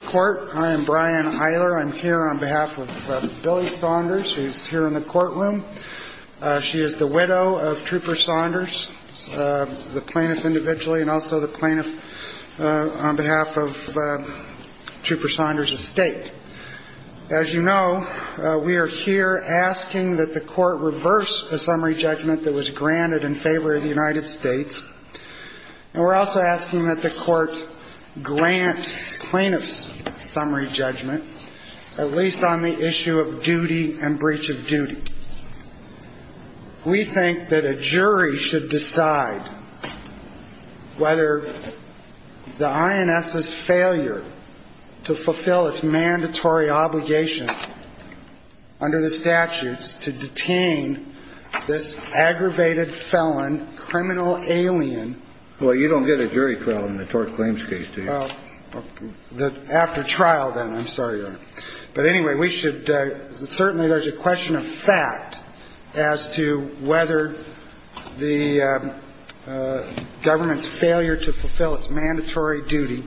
Court. I am Brian Eiler. I'm here on behalf of Billy Saunders, who's here in the courtroom. She is the widow of Trooper Saunders, the plaintiff individually, and also the plaintiff on behalf of Trooper Saunders' estate. As you know, we are here asking that the Court reverse a summary judgment that was granted in favor of the United States. And we're also asking that the summary judgment, at least on the issue of duty and breach of duty. We think that a jury should decide whether the INS's failure to fulfill its mandatory obligation under the statutes to detain this aggravated felon, criminal alien. Well, you don't get a jury trial in the tort claims case, do you? After trial, then. I'm sorry. But anyway, we should certainly there's a question of fact as to whether the government's failure to fulfill its mandatory duty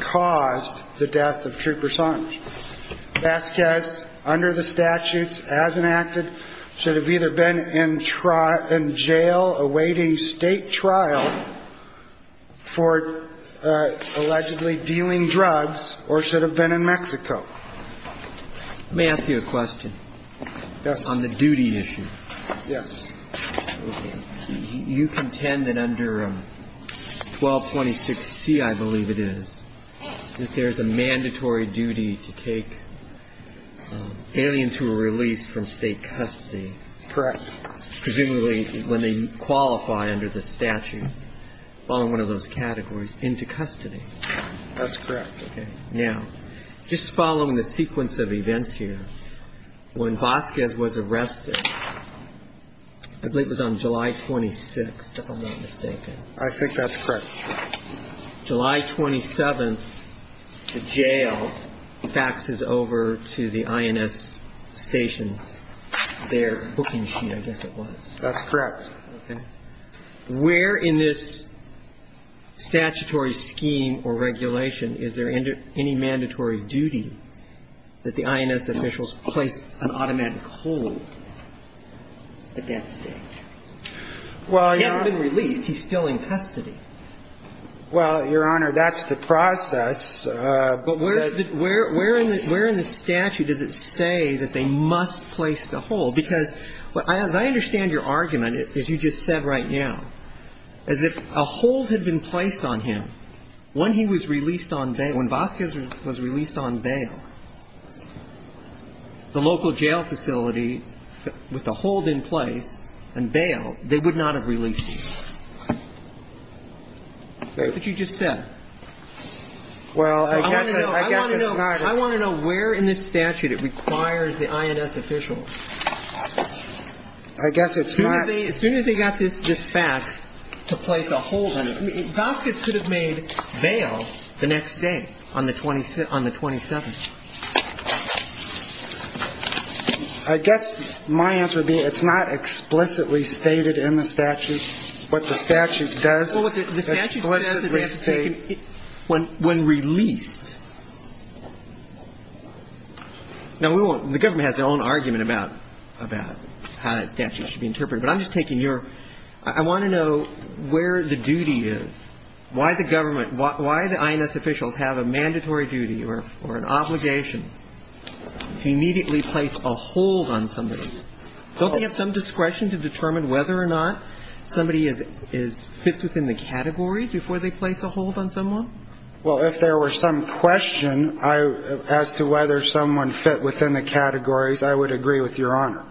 caused the death of Trooper Saunders. Vasquez, under the statutes as enacted, should have either been in jail awaiting state trial for allegedly dealing drugs, or should have been in Mexico. May I ask you a question? Yes. On the duty issue. Yes. You contend that under 1226C, I believe it is, that there's a mandatory duty to take aliens who are released from state custody. Correct. Presumably when they qualify under the statute, following one of those categories, into custody. That's correct. Okay. Now, just following the sequence of events here, when Vasquez was arrested, I believe it was on July 26th, if I'm not mistaken. I think that's correct. July 27th, the jail faxes over to the INS stations, their booking sheet, I guess it was. That's correct. Okay. Where in this statutory scheme or regulation is there any mandatory duty that the INS officials place an automatic hold on Vasquez at that stage? Well, Your Honor. He hasn't been released. He's still in custody. Well, Your Honor, that's the process. But where in the statute does it say that they must place the hold? Because as I understand your argument, as you just said right now, as if a hold had been placed on him when he was released on bail, when Vasquez was released on bail, the local jail facility, with the hold in place and bail, they would not have released him. But you just said. Well, I guess it's not. I want to know where in this statute it requires the INS officials. I guess it's not. As soon as they got this fax to place a hold on him. Vasquez could have made bail the next day on the 27th. I guess my answer would be it's not explicitly stated in the statute. What the statute does. The statute says it has to be taken when released. Now, the government has their own argument about how that statute should be interpreted. But I'm wondering where the duty is. Why the government, why the INS officials have a mandatory duty or an obligation to immediately place a hold on somebody? Don't they have some discretion to determine whether or not somebody fits within the categories before they place a hold on someone? Well, if there were some question as to whether someone fit within the categories, I would agree with Your Honor.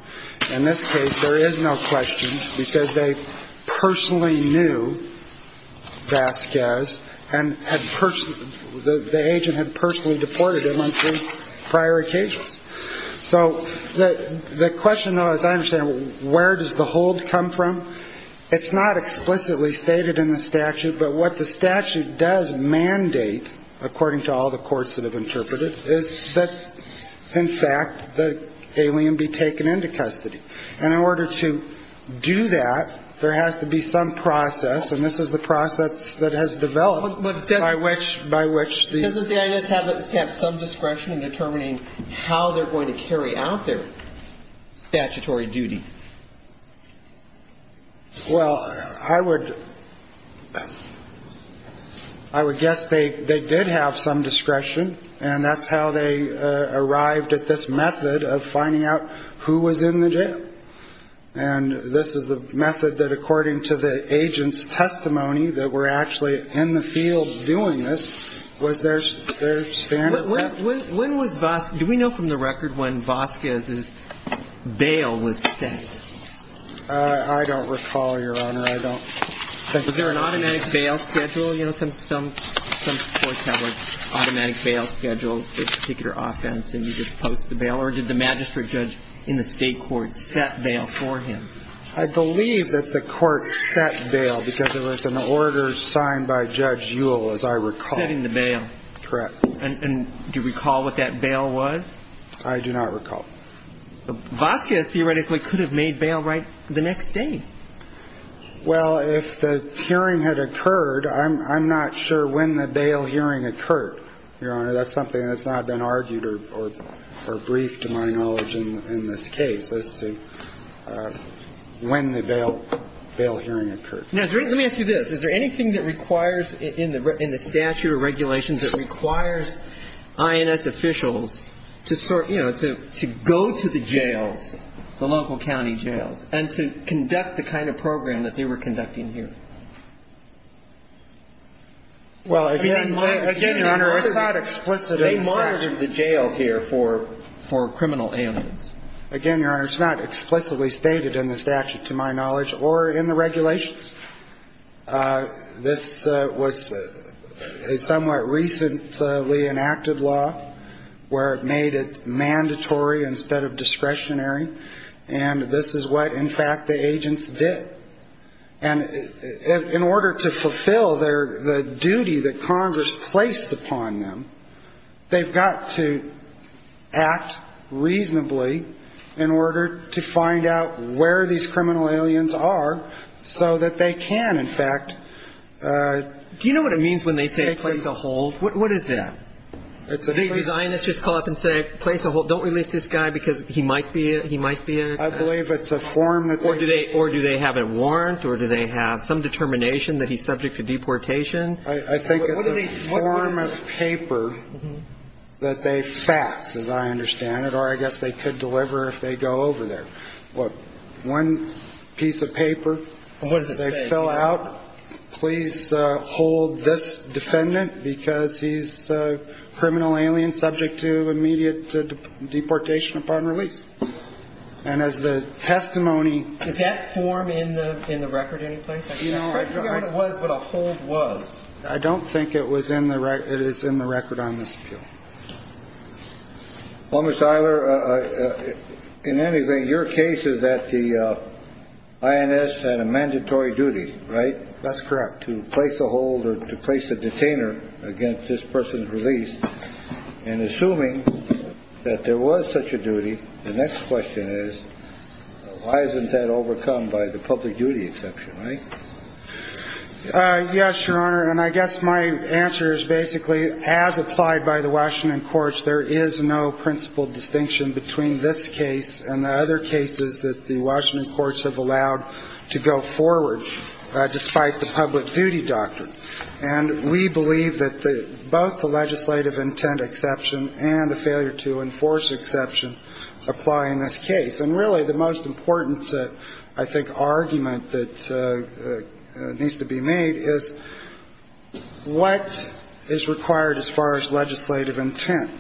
In this case, there is no question because they personally knew Vasquez and the agent had personally deported him on three prior occasions. So the question, though, as I understand, where does the hold come from? It's not explicitly stated in the statute. But what the statute does mandate, according to all the courts that interpret it, is that, in fact, the alien be taken into custody. And in order to do that, there has to be some process. And this is the process that has developed by which the INS has some discretion in determining how they're going to carry out their statutory duty. Well, I would guess they did have some discretion, and that's how they arrived at this method of finding out who was in the jail. And this is the method that, according to the agent's testimony, that were actually in the field doing this, was their standard. When was Vasquez? Do we know from the record when Vasquez's bail was set? I don't recall, Your Honor. I don't. Was there an automatic bail schedule? You know, some courts have, like, automatic bail schedules for a particular offense, and you just post the bail. Or did the magistrate judge in the state court set bail for him? I believe that the court set bail because there was an order signed by Judge Ewell, as I recall. Setting the bail. Correct. And do you recall what that bail was? I do not recall. Vasquez, theoretically, could have made bail right the next day. Well, if the hearing had occurred, I'm not sure when the bail hearing occurred, Your Honor. That's something that's not been argued or briefed, to my knowledge, in this case, as to when the bail hearing occurred. Now, let me ask you this. Is there anything that requires, in the statute of regulations, that requires INS officials to sort of, you know, to go to the jails, the local county jails, and to conduct the kind of program that they were conducting here? Well, again, Your Honor, it's not explicitly stated. They monitored the jails here for criminal aliens. Again, Your Honor, it's not explicitly stated in the statute, to my knowledge, or in the regulations. This was a somewhat recently enacted law where it made it mandatory instead of discretionary. And this is what, in fact, the agents did. And in order to fulfill the duty that Congress placed upon them, they've got to act reasonably in order to find out where these criminal aliens are so that they can, in fact, take them. Do you know what it means when they say, place a hold? What is that? It's a place a hold. Do these INS just call up and say, place a hold, don't release this guy because he might be a ‑‑ he might be a ‑‑ I believe it's a form that they ‑‑ Or do they have a warrant, or do they have some determination that he's subject to deportation? I think it's a form of paper that they fax, as I understand it. Or I guess they could deliver if they go over there. Look, one piece of paper. What does it say? They fill out, please hold this defendant because he's a criminal alien subject to immediate deportation upon release. And as the testimony ‑‑ Does that form in the record anyplace? I can't figure out what it was, but a hold was. I don't think it was in the ‑‑ it is in the record on this appeal. Well, Mr. Eiler, in any way, your case is that the INS had a mandatory duty, right? That's correct. To place a hold or to place a detainer against this person's release, and assuming that there was such a duty, the next question is, why isn't that overcome by the public duty exception, right? Yes, Your Honor, and I guess my answer is basically, as applied by the Washington Courts, there is no principle distinction between this case and the other cases that the Washington Courts have allowed to go forward, despite the public duty doctrine. And we believe that both the legislative intent exception and the failure to enforce exception apply in this case. And really, the most important, I think, argument that needs to be made is, what is required as far as legislative intent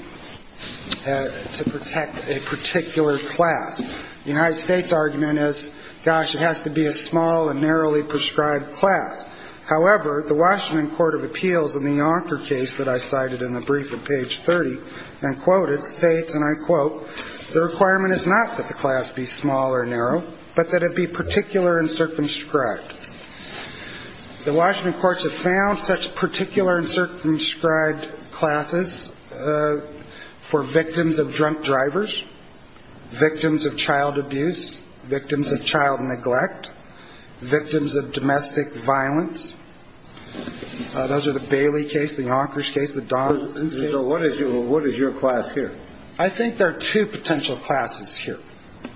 to protect a particular class? The United States argument is, gosh, it has to be a small and narrowly prescribed class. However, the Washington Court of Appeals in the Yonker case that I cited in the brief at page 30, and quoted, states, and I quote, the requirement is not that the class be small or narrow, but that it be particular and circumscribed. The Washington Courts have found such particular and circumscribed classes for victims of drunk drivers, victims of child abuse, victims of child neglect, victims of domestic violence. Those are the Bailey case, the Yonkers case, the Donaldson case. So what is your class here? I think there are two potential classes here.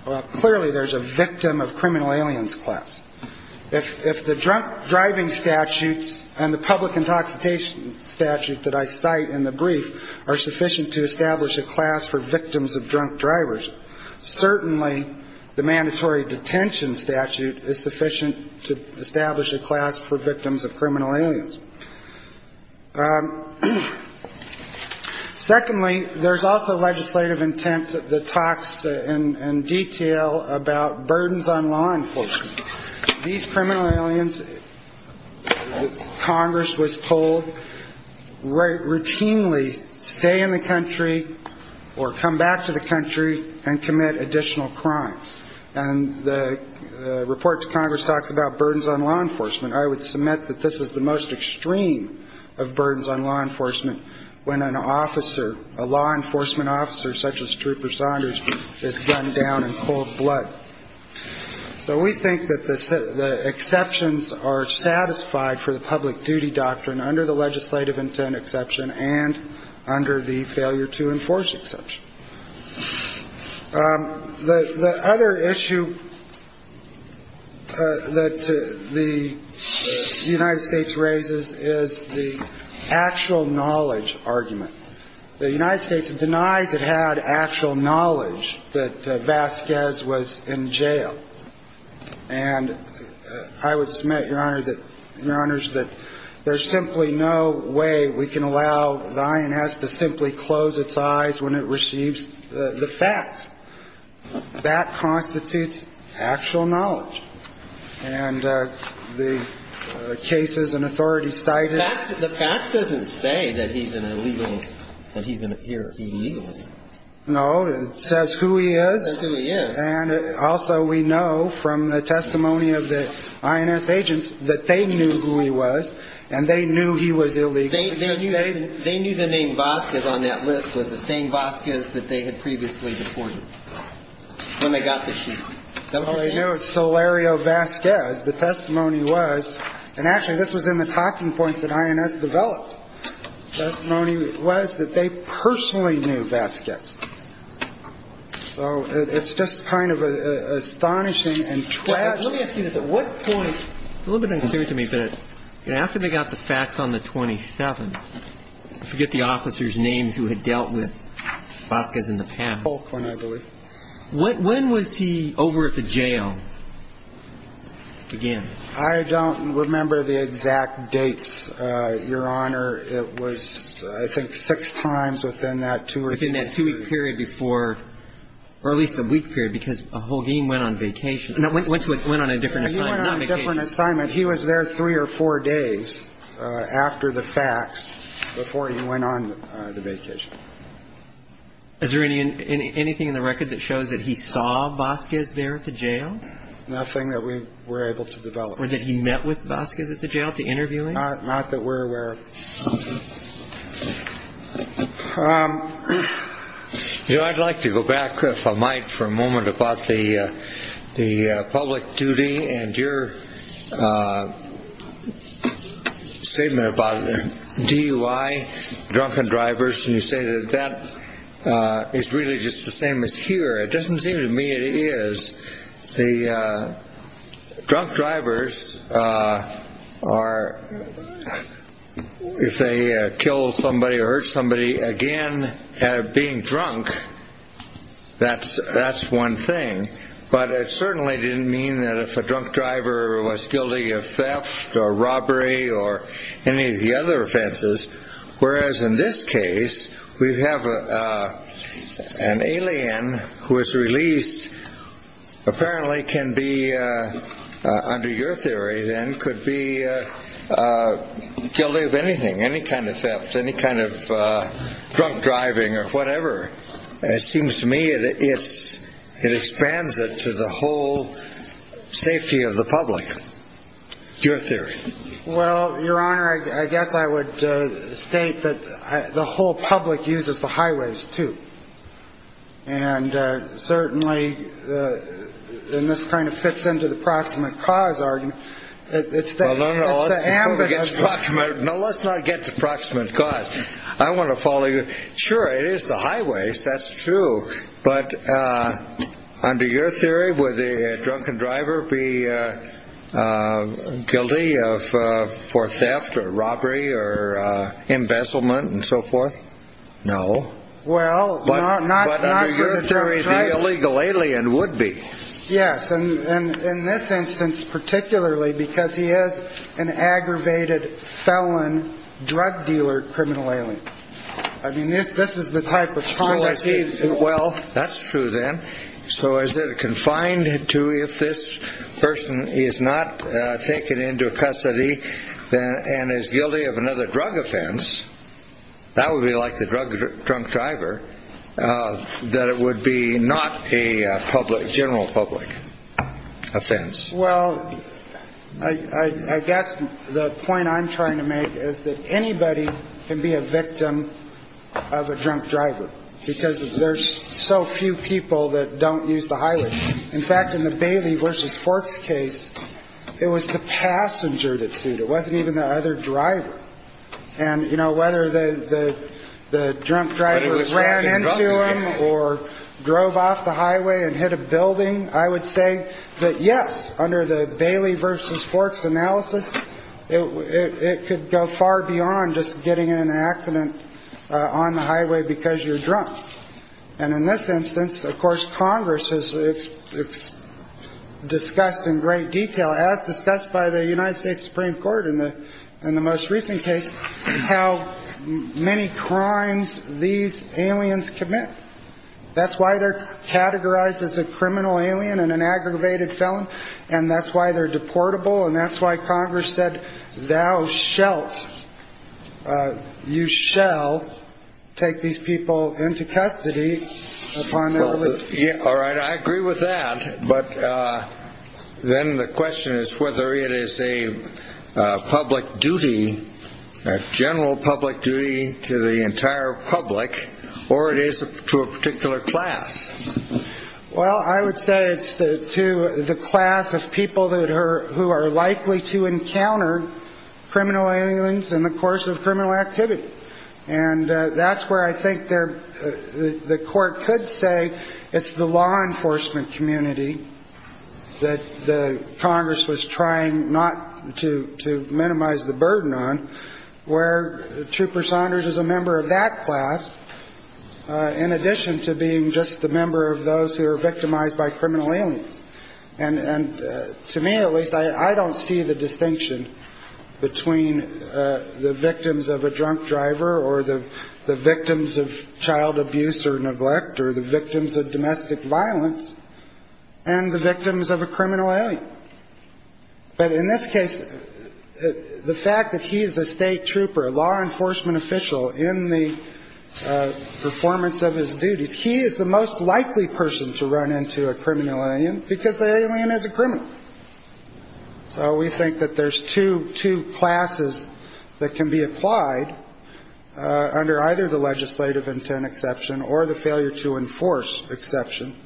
Well, clearly there's a victim of criminal aliens class. If the drunk driving statutes and the public intoxication statute that I cite in the brief are sufficient to establish a class for victims of drunk drivers, certainly the mandatory detention statute is sufficient to establish a class for victims of criminal aliens. Secondly, there's also legislative intent that talks in detail about burdens on law enforcement. These criminal aliens, Congress was told, routinely stay in the country or come back to the country and commit additional crimes. And the report to Congress talks about burdens on law enforcement. I would submit that this is the most extreme of burdens on law enforcement when an officer, a law enforcement officer such as Trooper Saunders, is gunned down in cold blood. So we think that the exceptions are satisfied for the public duty doctrine under the legislative intent exception and under the failure to enforce exception. The other issue that the United States raises is the actual knowledge argument. The United States denies it had actual knowledge that Vasquez was in jail. And I would submit, Your Honor, that there's simply no way we can allow the INS to simply close its eyes when it receives the facts. That constitutes actual knowledge. And the cases and authorities cited… The facts doesn't say that he's an illegal… that he's here illegally. No. It says who he is. It says who he is. And also we know from the testimony of the INS agents that they knew who he was and they knew he was illegal. They knew the name Vasquez on that list was the same Vasquez that they had previously deported when they got the shooting. That was the case? Well, they knew it was Solario Vasquez. The testimony was – and actually, this was in the talking points that INS developed. The testimony was that they personally knew Vasquez. So it's just kind of astonishing and tragic. Let me ask you this. At what point – it's a little bit unclear to me. But after they got the facts on the 27th – I forget the officer's name who had dealt with Vasquez in the past. Folkman, I believe. When was he over at the jail again? I don't remember the exact dates, Your Honor. It was, I think, six times within that two-week period. Within that two-week period before – or at least the week period, because Holguin went on vacation. Went on a different assignment. He went on a different assignment. He was there three or four days after the facts before he went on the vacation. Is there anything in the record that shows that he saw Vasquez there at the jail? Nothing that we were able to develop. Or that he met with Vasquez at the jail to interview him? Not that we're aware of. You know, I'd like to go back, if I might, for a moment about the public duty and your statement about DUI, drunken drivers. And you say that that is really just the same as here. It doesn't seem to me it is. The drunk drivers are – if they kill somebody or hurt somebody, again, being drunk, that's one thing. But it certainly didn't mean that if a drunk driver was guilty of theft or robbery or any of the other offenses. Whereas in this case, we have an alien who is released, apparently can be, under your theory then, could be guilty of anything. Any kind of theft, any kind of drunk driving or whatever. It seems to me it expands it to the whole safety of the public. Your theory. Well, Your Honor, I guess I would state that the whole public uses the highways, too. And certainly, and this kind of fits into the proximate cause argument. No, no, let's not get to proximate cause. I want to follow your – sure, it is the highways, that's true. But under your theory, would the drunken driver be guilty for theft or robbery or embezzlement and so forth? No. Well, not – But under your theory, the illegal alien would be. Yes, and in this instance particularly, because he is an aggravated felon, drug dealer, criminal alien. I mean, this is the type of conduct – Well, that's true then. So is it confined to if this person is not taken into custody and is guilty of another drug offense, that would be like the drug drunk driver, that it would be not a public, general public offense. Well, I guess the point I'm trying to make is that anybody can be a victim of a drunk driver, because there's so few people that don't use the highways. In fact, in the Bailey v. Forks case, it was the passenger that sued. It wasn't even the other driver. And, you know, whether the drunk driver ran into him or drove off the highway and hit a building, I would say that, yes, under the Bailey v. Forks analysis, it could go far beyond just getting in an accident on the highway because you're drunk. And in this instance, of course, Congress has discussed in great detail, as discussed by the United States Supreme Court in the most recent case, how many crimes these aliens commit. That's why they're categorized as a criminal alien and an aggravated felon. And that's why they're deportable. And that's why Congress said, thou shalt, you shall take these people into custody. All right, I agree with that. But then the question is whether it is a public duty, a general public duty to the entire public, or it is to a particular class. Well, I would say it's to the class of people who are likely to encounter criminal aliens in the course of criminal activity. And that's where I think the court could say it's the law enforcement community that Congress was trying not to minimize the burden on, where Trooper Saunders is a member of that class, in addition to being just a member of those who are victimized by criminal aliens. And to me, at least, I don't see the distinction between the victims of a drunk driver or the victims of child abuse or neglect or the victims of domestic violence and the victims of a criminal alien. But in this case, the fact that he is a state trooper, a law enforcement official, in the performance of his duties, he is the most likely person to run into a criminal alien because the alien is a criminal. So we think that there's two classes that can be applied under either the legislative intent exception or the failure to enforce exception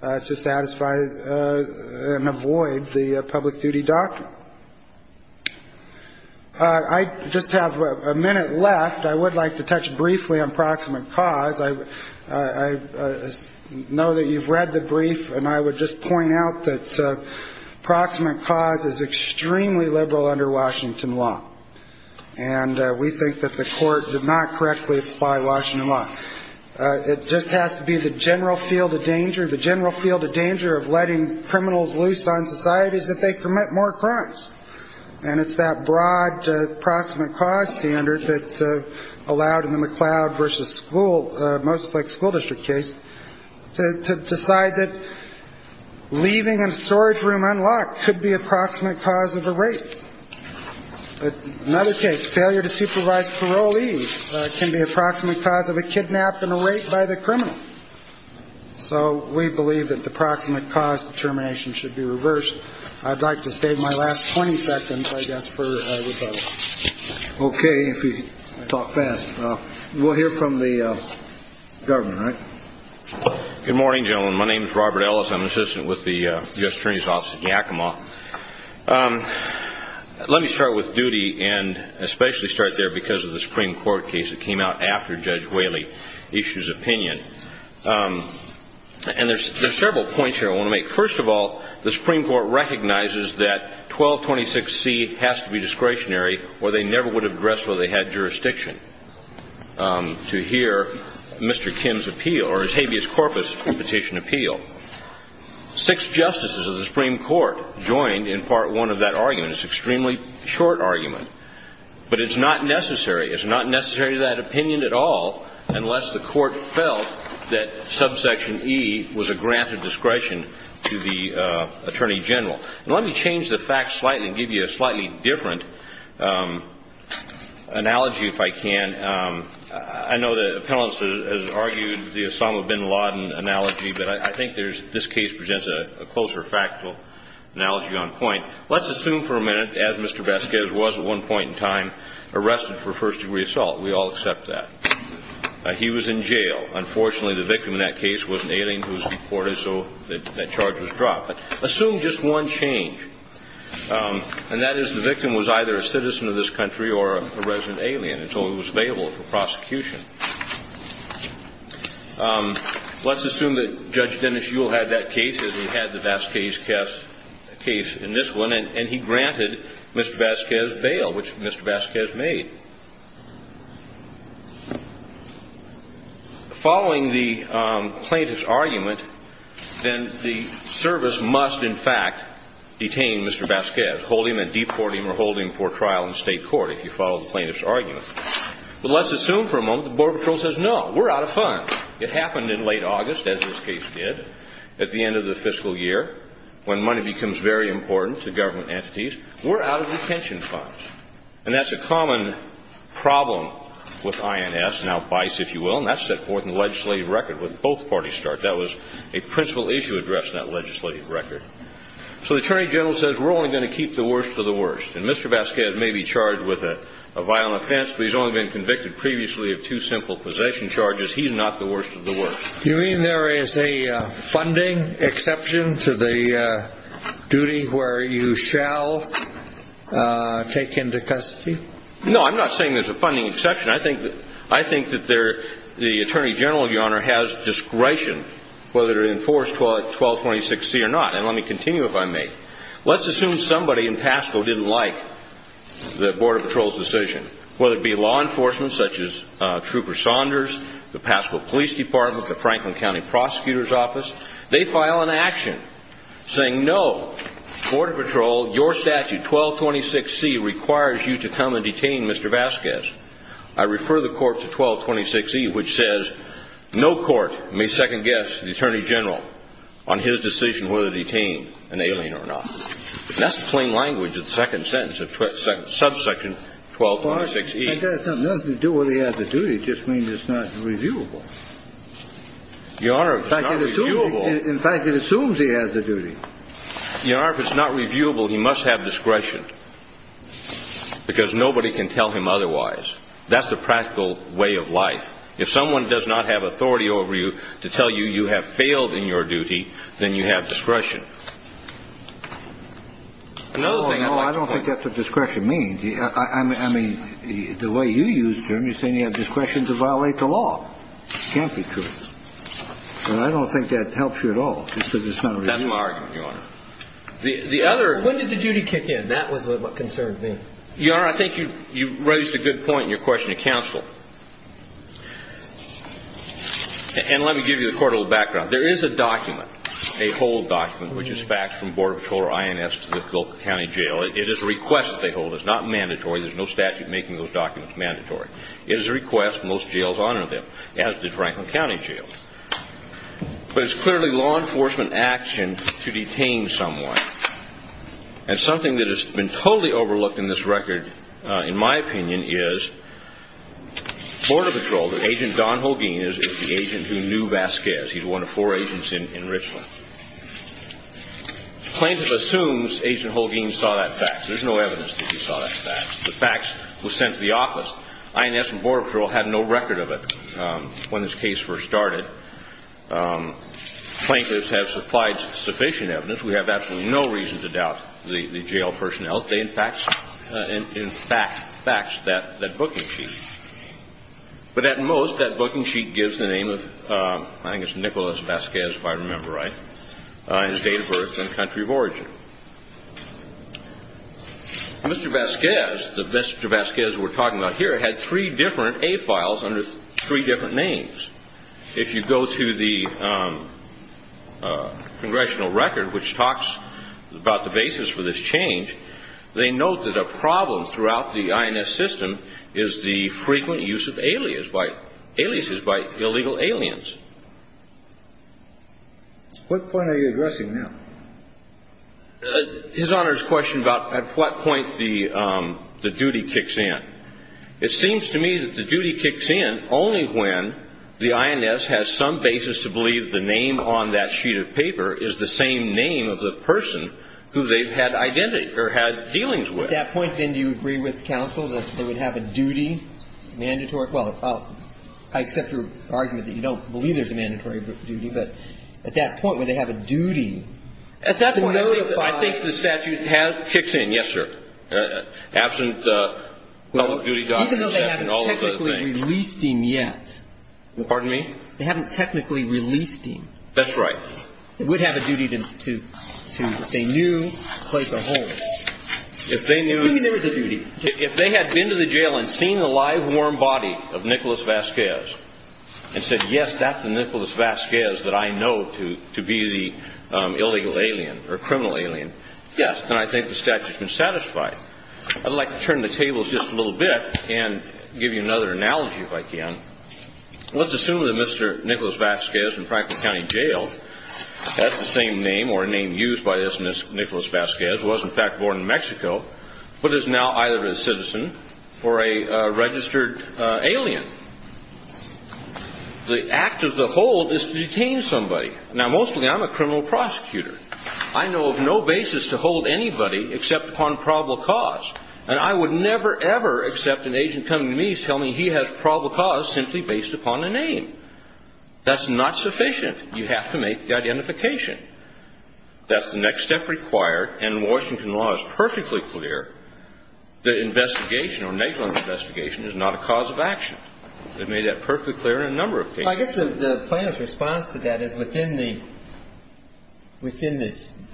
to satisfy and avoid the public duty doctrine. I just have a minute left. I would like to touch briefly on proximate cause. I know that you've read the brief, and I would just point out that proximate cause is extremely liberal under Washington law. And we think that the court did not correctly apply Washington law. It just has to be the general field of danger, the general field of danger of letting criminals loose on societies that they commit more crimes. And it's that broad proximate cause standard that allowed in the McLeod versus school, most like school district case, to decide that leaving a storage room unlocked could be a proximate cause of a rape. But in other cases, failure to supervise parolees can be a proximate cause of a kidnap and a rape by the criminal. So we believe that the proximate cause determination should be reversed. I'd like to save my last 20 seconds, I guess, for a rebuttal. Okay. If you talk fast, we'll hear from the government, right? Good morning, gentlemen. My name is Robert Ellis. I'm an assistant with the U.S. Attorney's Office in Yakima. Let me start with duty and especially start there because of the Supreme Court case that came out after Judge Whaley issued his opinion. And there's several points here I want to make. First of all, the Supreme Court recognizes that 1226C has to be discretionary or they never would have addressed whether they had jurisdiction to hear Mr. Kim's appeal, or his habeas corpus petition appeal. Six justices of the Supreme Court joined in part one of that argument. It's an extremely short argument, but it's not necessary. It's not necessary to that opinion at all unless the Court felt that subsection E was a grant of discretion to the Attorney General. Let me change the facts slightly and give you a slightly different analogy, if I can. I know the panelist has argued the Osama bin Laden analogy, but I think this case presents a closer factual analogy on point. Let's assume for a minute, as Mr. Vasquez was at one point in time, arrested for first degree assault. We all accept that. He was in jail. Unfortunately, the victim in that case was an alien who was deported, so that charge was dropped. Assume just one change, and that is the victim was either a citizen of this country or a resident alien, and so he was available for prosecution. Let's assume that Judge Dennis Ewell had that case, as he had the Vasquez case in this one, and he granted Mr. Vasquez bail, which Mr. Vasquez made. Following the plaintiff's argument, then the service must, in fact, detain Mr. Vasquez, hold him and deport him or hold him for trial in state court, if you follow the plaintiff's argument. But let's assume for a moment the Border Patrol says, no, we're out of funds. It happened in late August, as this case did, at the end of the fiscal year, when money becomes very important to government entities. We're out of detention funds, and that's a common problem with INS, now BICE, if you will, and that's set forth in the legislative record with both parties' start. That was a principal issue addressed in that legislative record. So the Attorney General says, we're only going to keep the worst of the worst, and Mr. Vasquez may be charged with a violent offense, but he's only been convicted previously of two simple possession charges. He's not the worst of the worst. You mean there is a funding exception to the duty where you shall take him to custody? No, I'm not saying there's a funding exception. I think that the Attorney General, Your Honor, has discretion whether to enforce 1226C or not, and let me continue if I may. Let's assume somebody in Pasco didn't like the Border Patrol's decision, whether it be law enforcement such as Trooper Saunders, the Pasco Police Department, the Franklin County Prosecutor's Office. They file an action saying, no, Border Patrol, your statute, 1226C, requires you to come and detain Mr. Vasquez. I refer the court to 1226C, which says no court may second-guess the Attorney General on his decision whether to detain an alien or not. That's the plain language of the second sentence of subsection 1226E. But that has nothing to do with whether he has the duty. It just means it's not reviewable. Your Honor, it's not reviewable. In fact, it assumes he has the duty. Your Honor, if it's not reviewable, he must have discretion because nobody can tell him otherwise. That's the practical way of life. If someone does not have authority over you to tell you you have failed in your duty, then you have discretion. Another thing I'd like to point out. No, no, I don't think that's what discretion means. I mean, the way you use terms, you're saying you have discretion to violate the law. Can't be true. And I don't think that helps you at all. Just that it's not reviewable. That's my argument, Your Honor. The other... When did the duty kick in? That was what concerned me. Your Honor, I think you raised a good point in your question to counsel. And let me give you the court of background. There is a document, a hold document, which is faxed from Border Patrol or INS to the Phillip County Jail. It is a request they hold. It's not mandatory. There's no statute making those documents mandatory. It is a request. Most jails honor them, as did Franklin County Jail. But it's clearly law enforcement action to detain someone. And something that has been totally overlooked in this record, in my opinion, is Border Patrol, that Agent Don Holguin is the agent who knew Vasquez. He's one of four agents in Richland. Plaintiff assumes Agent Holguin saw that fax. There's no evidence that he saw that fax. The fax was sent to the office. INS and Border Patrol had no record of it when this case first started. Plaintiffs have supplied sufficient evidence. We have absolutely no reason to doubt the jail personnel. They, in fact, faxed that booking sheet. But at most, that booking sheet gives the name of Nicholas Vasquez, if I remember right, his date of birth and country of origin. Mr. Vasquez, the Mr. Vasquez we're talking about here, had three different A files under three different names. If you go to the congressional record, which talks about the basis for this change, they note that a problem throughout the INS system is the frequent use of aliases by illegal aliens. What point are you addressing now? His Honor's question about at what point the duty kicks in. It seems to me that the duty kicks in only when the INS has some basis to believe the name on that sheet of paper is the same name of the person who they've had identity or had dealings with. At that point, then, do you agree with counsel that they would have a duty, mandatory? Well, I accept your argument that you don't believe there's a mandatory duty. But at that point, would they have a duty? At that point, I think the statute kicks in. Yes, sir. Absent public duty documents and all those other things. Even though they haven't technically released him yet. Pardon me? They haven't technically released him. That's right. They would have a duty to, if they knew, place a hold. If they knew. If they knew there was a duty. If they had been to the jail and seen the live, warm body of Nicholas Vasquez and said, yes, that's the Nicholas Vasquez that I know to be the illegal alien or criminal alien. Yes. And I think the statute's been satisfied. I'd like to turn the tables just a little bit and give you another analogy, if I can. Let's assume that Mr. Nicholas Vasquez in Franklin County Jail, that's the same name or a name used by this Nicholas Vasquez, was in fact born in Mexico, but is now either a citizen or a registered alien. The act of the hold is to detain somebody. Now, mostly I'm a criminal prosecutor. I know of no basis to hold anybody except upon probable cause. And I would never, ever accept an agent coming to me telling me he has probable cause simply based upon a name. That's not sufficient. You have to make the identification. That's the next step required. And Washington law is perfectly clear that investigation or negligent investigation is not a cause of action. They've made that perfectly clear in a number of cases. I get the plaintiff's response to that is within the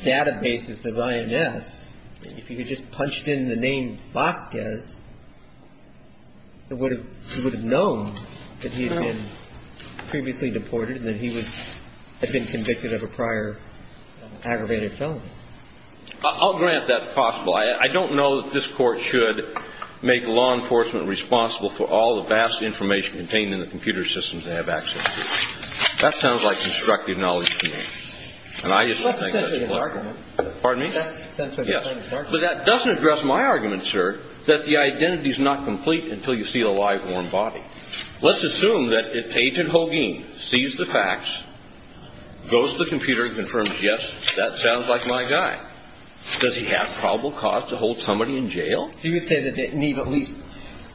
databases of INS, if you had just punched in the name Vasquez, he would have known that he had been previously deported and that he had been convicted of a prior aggravated felony. I'll grant that possible. I don't know that this Court should make law enforcement responsible for all the vast information contained in the computer systems they have access to. That sounds like constructive knowledge to me. And I just don't think that's the point. That's essentially an argument. Pardon me? Yes. But that doesn't address my argument, sir, that the identity is not complete until you see a live, warm body. Let's assume that Agent Hogan sees the facts, goes to the computer and confirms, yes, that sounds like my guy. Does he have probable cause to hold somebody in jail? So you would say that they need at least,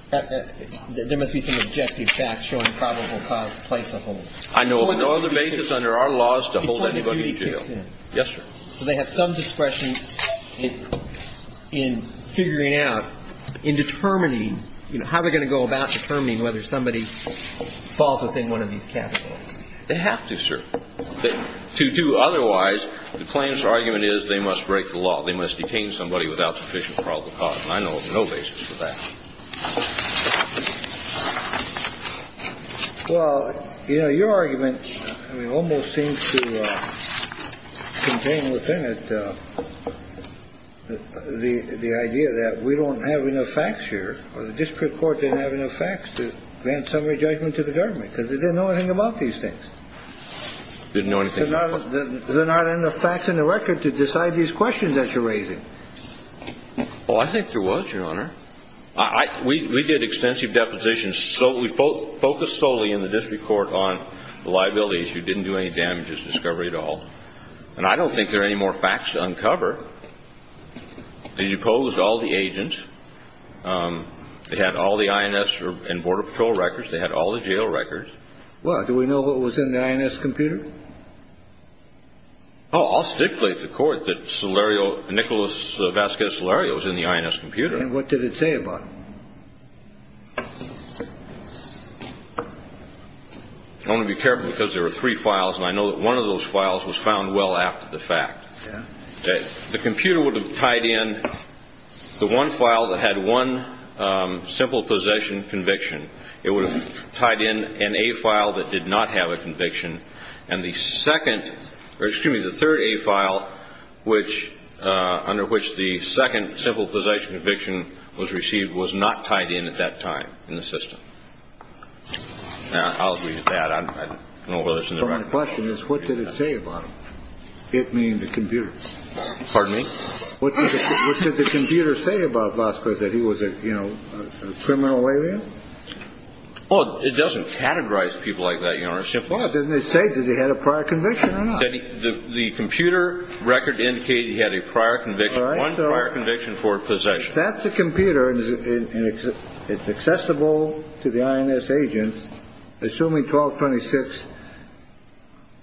there must be some objective facts showing probable cause to place a hold. I know of no other basis under our laws to hold anybody in jail. Yes, sir. So they have some discretion in figuring out, in determining, you know, how they're going to go about determining whether somebody falls within one of these categories. They have to, sir. To do otherwise, the plaintiff's argument is they must break the law. They must detain somebody without sufficient probable cause. And I know of no basis for that. Well, you know, your argument almost seems to contain within it the idea that we don't have enough facts here or the district court didn't have enough facts to grant summary judgment to the government because they didn't know anything about these things. They didn't know anything. There's not enough facts in the record to decide these questions that you're raising. Well, I think there was, Your Honor. I, we did extensive depositions. So we focused solely in the district court on the liabilities. You didn't do any damages discovery at all. And I don't think there are any more facts to uncover. They deposed all the agents. They had all the INS and border patrol records. They had all the jail records. Well, do we know what was in the INS computer? Oh, I'll stipulate to the court that Nicholas Vasquez Solario was in the INS computer. And what did it say about him? I want to be careful because there were three files. And I know that one of those files was found well after the fact. The computer would have tied in the one file that had one simple possession conviction. It would have tied in an A file that did not have a conviction. And the second, or excuse me, the third A file, which, under which the second simple possession conviction was received, was not tied in at that time in the system. Now, I'll read that. I don't know whether it's in the record. So my question is, what did it say about him? It mean the computer. Pardon me? What did the computer say about Vasquez, that he was a, you know, a criminal alien? Well, it doesn't categorize people like that, Your Honor. Well, didn't it say that he had a prior conviction or not? The computer record indicated he had a prior conviction, one prior conviction for possession. If that's a computer and it's accessible to the INS agents, assuming 1226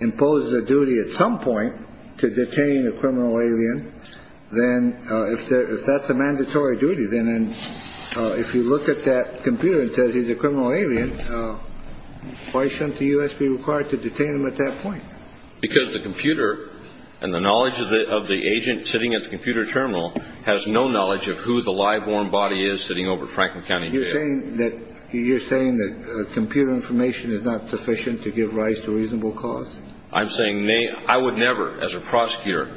imposed the duty at some point to detain a criminal alien, then if that's a mandatory duty, then if you look at that computer and it says he's a criminal alien, why shouldn't the U.S. be required to detain him at that point? Because the computer and the knowledge of the agent sitting at the computer terminal has no knowledge of who the live, warm body is sitting over at Franklin County Jail. You're saying that computer information is not sufficient to give rise to reasonable cause? I'm saying I would never, as a prosecutor,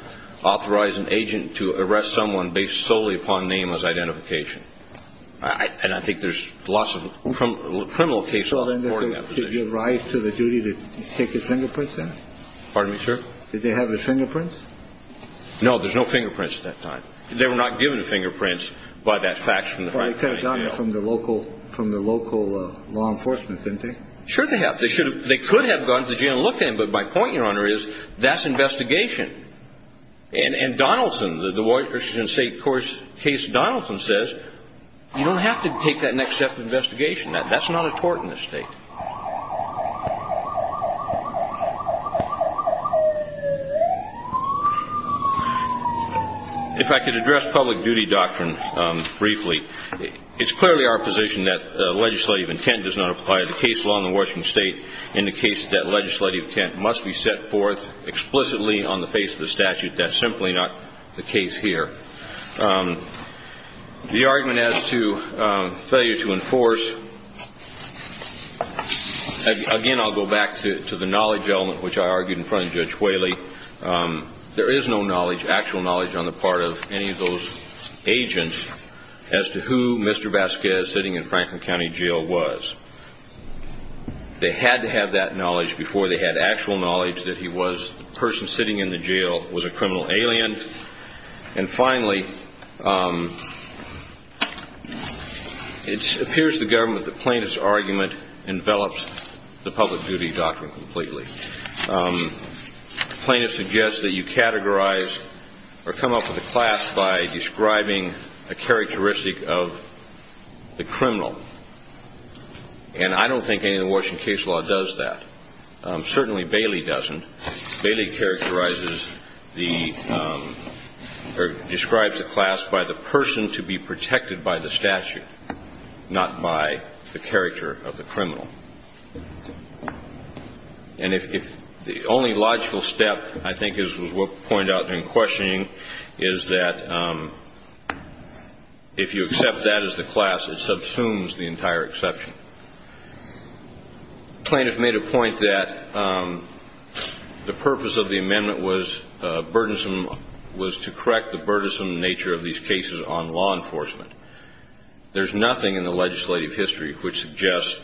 authorize an agent to arrest someone based solely upon name as identification. And I think there's lots of criminal cases supporting that position. Did you give rise to the duty to take his fingerprints then? Pardon me, sir? Did they have his fingerprints? No, there's no fingerprints at that time. They were not given the fingerprints by that fax from the Franklin County Jail. Well, they could have gotten it from the local law enforcement, didn't they? Sure they have. They could have gone to the jail and looked at him, but my point, Your Honor, is that's investigation. And Donaldson, the Washington State court's case, Donaldson says, you don't have to take that and accept investigation. That's not a tort in this state. If I could address public duty doctrine briefly. It's clearly our position that legislative intent does not apply to the case law in the face of the statute. That's simply not the case here. The argument as to failure to enforce, again, I'll go back to the knowledge element, which I argued in front of Judge Whaley. There is no actual knowledge on the part of any of those agents as to who Mr. Vasquez, sitting in Franklin County Jail, was. They had to have that knowledge before they had actual knowledge that he was the person sitting in the jail was a criminal alien. And finally, it appears to the government that the plaintiff's argument envelops the public duty doctrine completely. The plaintiff suggests that you categorize or come up with a class by describing a characteristic of the criminal. And I don't think any of the Washington case law does that. Certainly, Bailey doesn't. Bailey characterizes or describes a class by the person to be protected by the statute, not by the character of the criminal. And if the only logical step, I think, as was pointed out in questioning, is that if you accept that as the class, it subsumes the entire exception. The plaintiff made a point that the purpose of the amendment was burdensome, was to correct the burdensome nature of these cases on law enforcement. There's nothing in the legislative history which suggests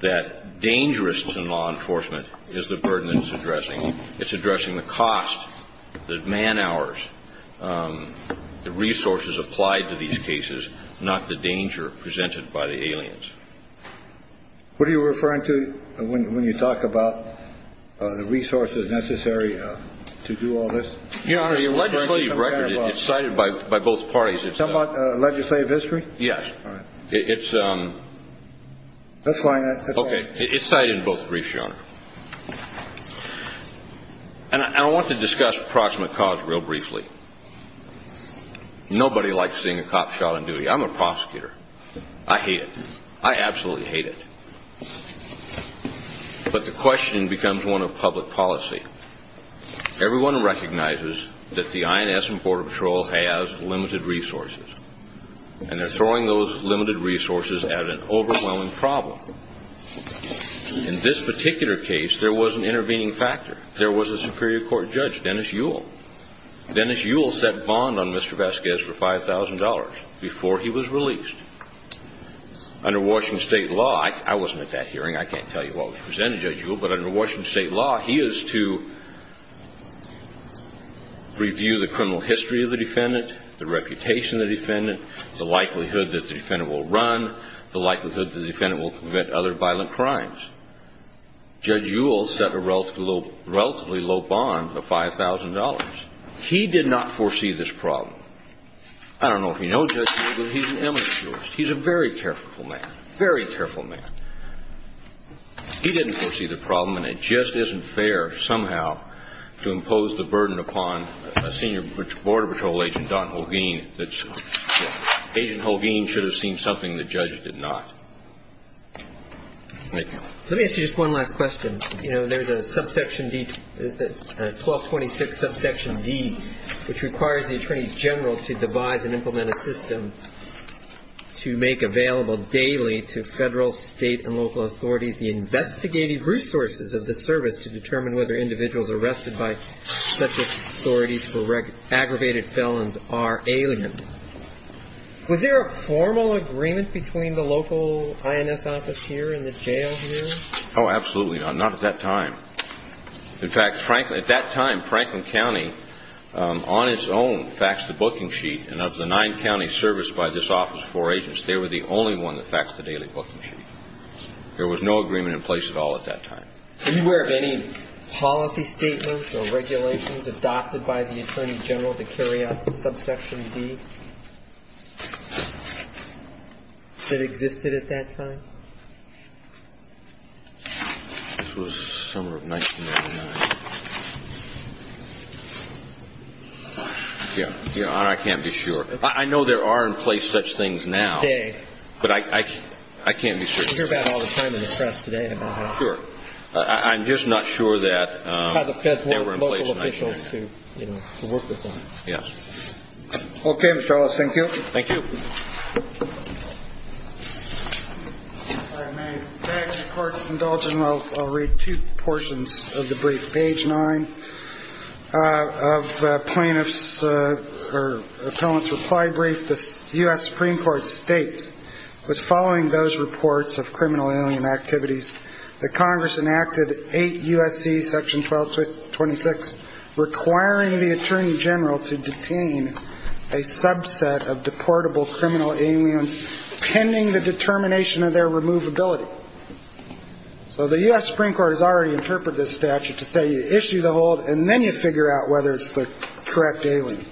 that dangerous to law enforcement is the burden it's addressing. It's addressing the cost, the man hours, the resources applied to these cases, not the danger presented by the aliens. What are you referring to when you talk about the resources necessary to do all this? Your Honor, the legislative record, it's cited by both parties. You're talking about legislative history? Yes. All right. It's... That's fine. Okay. It's cited in both briefs, Your Honor. And I want to discuss proximate cause real briefly. Nobody likes seeing a cop shot on duty. I'm a prosecutor. I hate it. I absolutely hate it. But the question becomes one of public policy. Everyone recognizes that the INS and Border Patrol has limited resources, and they're throwing those limited resources at an overwhelming problem. In this particular case, there was an intervening factor. There was a superior court judge, Dennis Yule. Dennis Yule set bond on Mr. Vasquez for $5,000 before he was released. Under Washington state law, I wasn't at that hearing. I can't tell you what was presented, Judge Yule. But under Washington state law, he is to review the criminal history of the defendant, the reputation of the defendant, the likelihood that the defendant will run, the likelihood the defendant will commit other violent crimes. Judge Yule set a relatively low bond of $5,000. He did not foresee this problem. I don't know if you know Judge Yule, but he's an amateur. He's a very careful man. Very careful man. He didn't foresee the problem, and it just isn't fair somehow to impose the burden upon a senior Border Patrol agent, Don Holguin, that Agent Holguin should have seen something the judge did not. Thank you. Let me ask you just one last question. You know, there's a subsection D, 1226 subsection D, which requires the attorney general to devise and implement a system to make available daily to federal, state, and local authorities the investigative resources of the service to determine whether individuals arrested by such authorities for aggravated felons are aliens. Was there a formal agreement between the local INS office here and the jail here? Oh, absolutely not. Not at that time. In fact, frankly, at that time, Franklin County on its own faxed the booking sheet, and of the nine counties serviced by this office, four agents, they were the only one that faxed the daily booking sheet. There was no agreement in place at all at that time. Are you aware of any policy statements or regulations adopted by the attorney general to carry out the subsection D? That existed at that time? This was summer of 1999. Yeah, Your Honor, I can't be sure. I know there are in place such things now. Today. But I can't be sure. You hear about it all the time in the press today about how. Sure. I'm just not sure that they were in place. By the local officials to work with them. Yes. OK, Mr. Ellis, thank you. Thank you. All right, may I ask the court to indulge and I'll read two portions of the brief. Page nine of plaintiff's or appellant's reply brief. The U.S. Supreme Court states, was following those reports of criminal alien activities, that Congress enacted 8 U.S.C. section 1226, requiring the attorney general to detain a subset of deportable criminal aliens, pending the determination of their removability. So the U.S. Supreme Court has already interpreted this statute to say, you issue the hold and then you figure out whether it's the correct alien.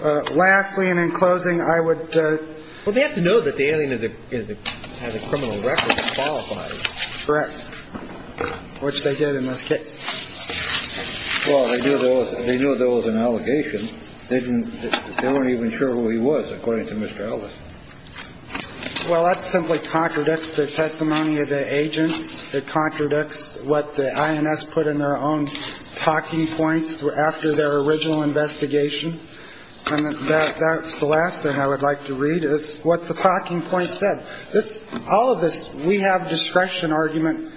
Lastly, and in closing, I would. Well, they have to know that the alien is a criminal record qualified. Correct. Which they did in this case. Well, they do. They know there was an allegation. They didn't. They weren't even sure who he was, according to Mr. Ellis. Well, that simply contradicts the testimony of the agents. It contradicts what the I.N.S. put in their own talking points after their original investigation. And that's the last thing I would like to read is what the talking point said. All of this we have discretion argument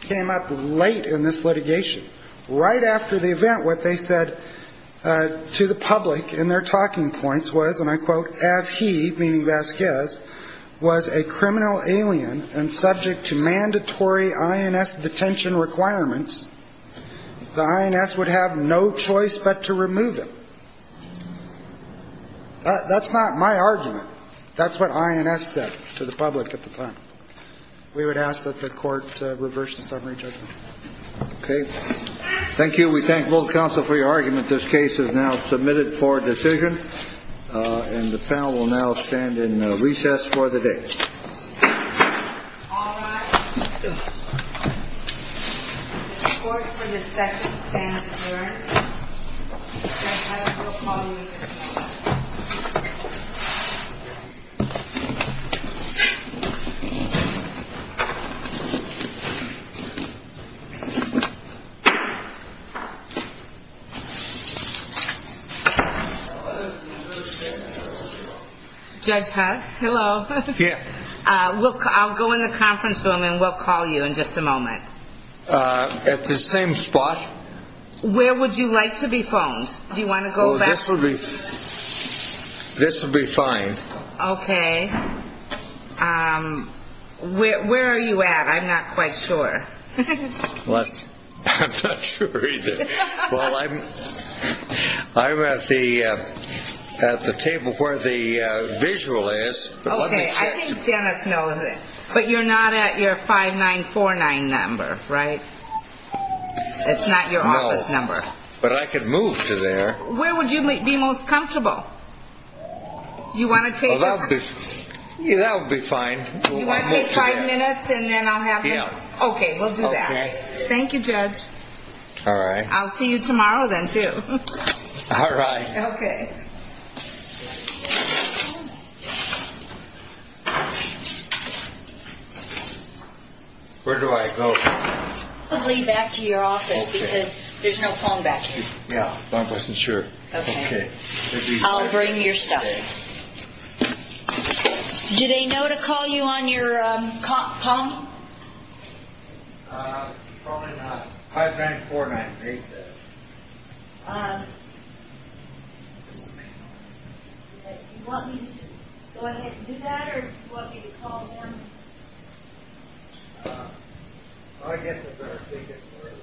came up late in this litigation. Right after the event, what they said to the public in their talking points was, and I quote, as he, meaning Vasquez, was a criminal alien and subject to mandatory I.N.S. detention requirements, the I.N.S. would have no choice but to remove him. That's not my argument. That's what I.N.S. said to the public at the time. We would ask that the court reverse the summary judgment. Okay. Thank you. We thank both counsel for your argument. This case is now submitted for decision. And the panel will now stand in recess for the day. The court for the second stand adjourned. Judge Huck, hello. Yeah. I'll go in the conference room and we'll call you in just a moment. At the same spot? Where would you like to be phoned? Do you want to go back? This would be fine. Okay. Where are you at? I'm not quite sure. I'm not sure either. Well, I'm at the table where the visual is. Okay. I think Dennis knows it. But you're not at your 5949 number, right? It's not your office number. But I could move to there. Where would you be most comfortable? Do you want to take it? Well, that'll be fine. Do you want to take five minutes and then I'll have him? Yeah. Okay. We'll do that. Thank you, Judge. All right. I'll see you tomorrow then, too. All right. Okay. Okay. Where do I go? Probably back to your office because there's no phone back here. Yeah, I wasn't sure. Okay. I'll bring your stuff. Do they know to call you on your phone? Probably not. 5949, they said. Um, do you want me to just go ahead and do that? Or do you want me to call them? Uh, I guess it's better if they get to where it is. How's that work? Good.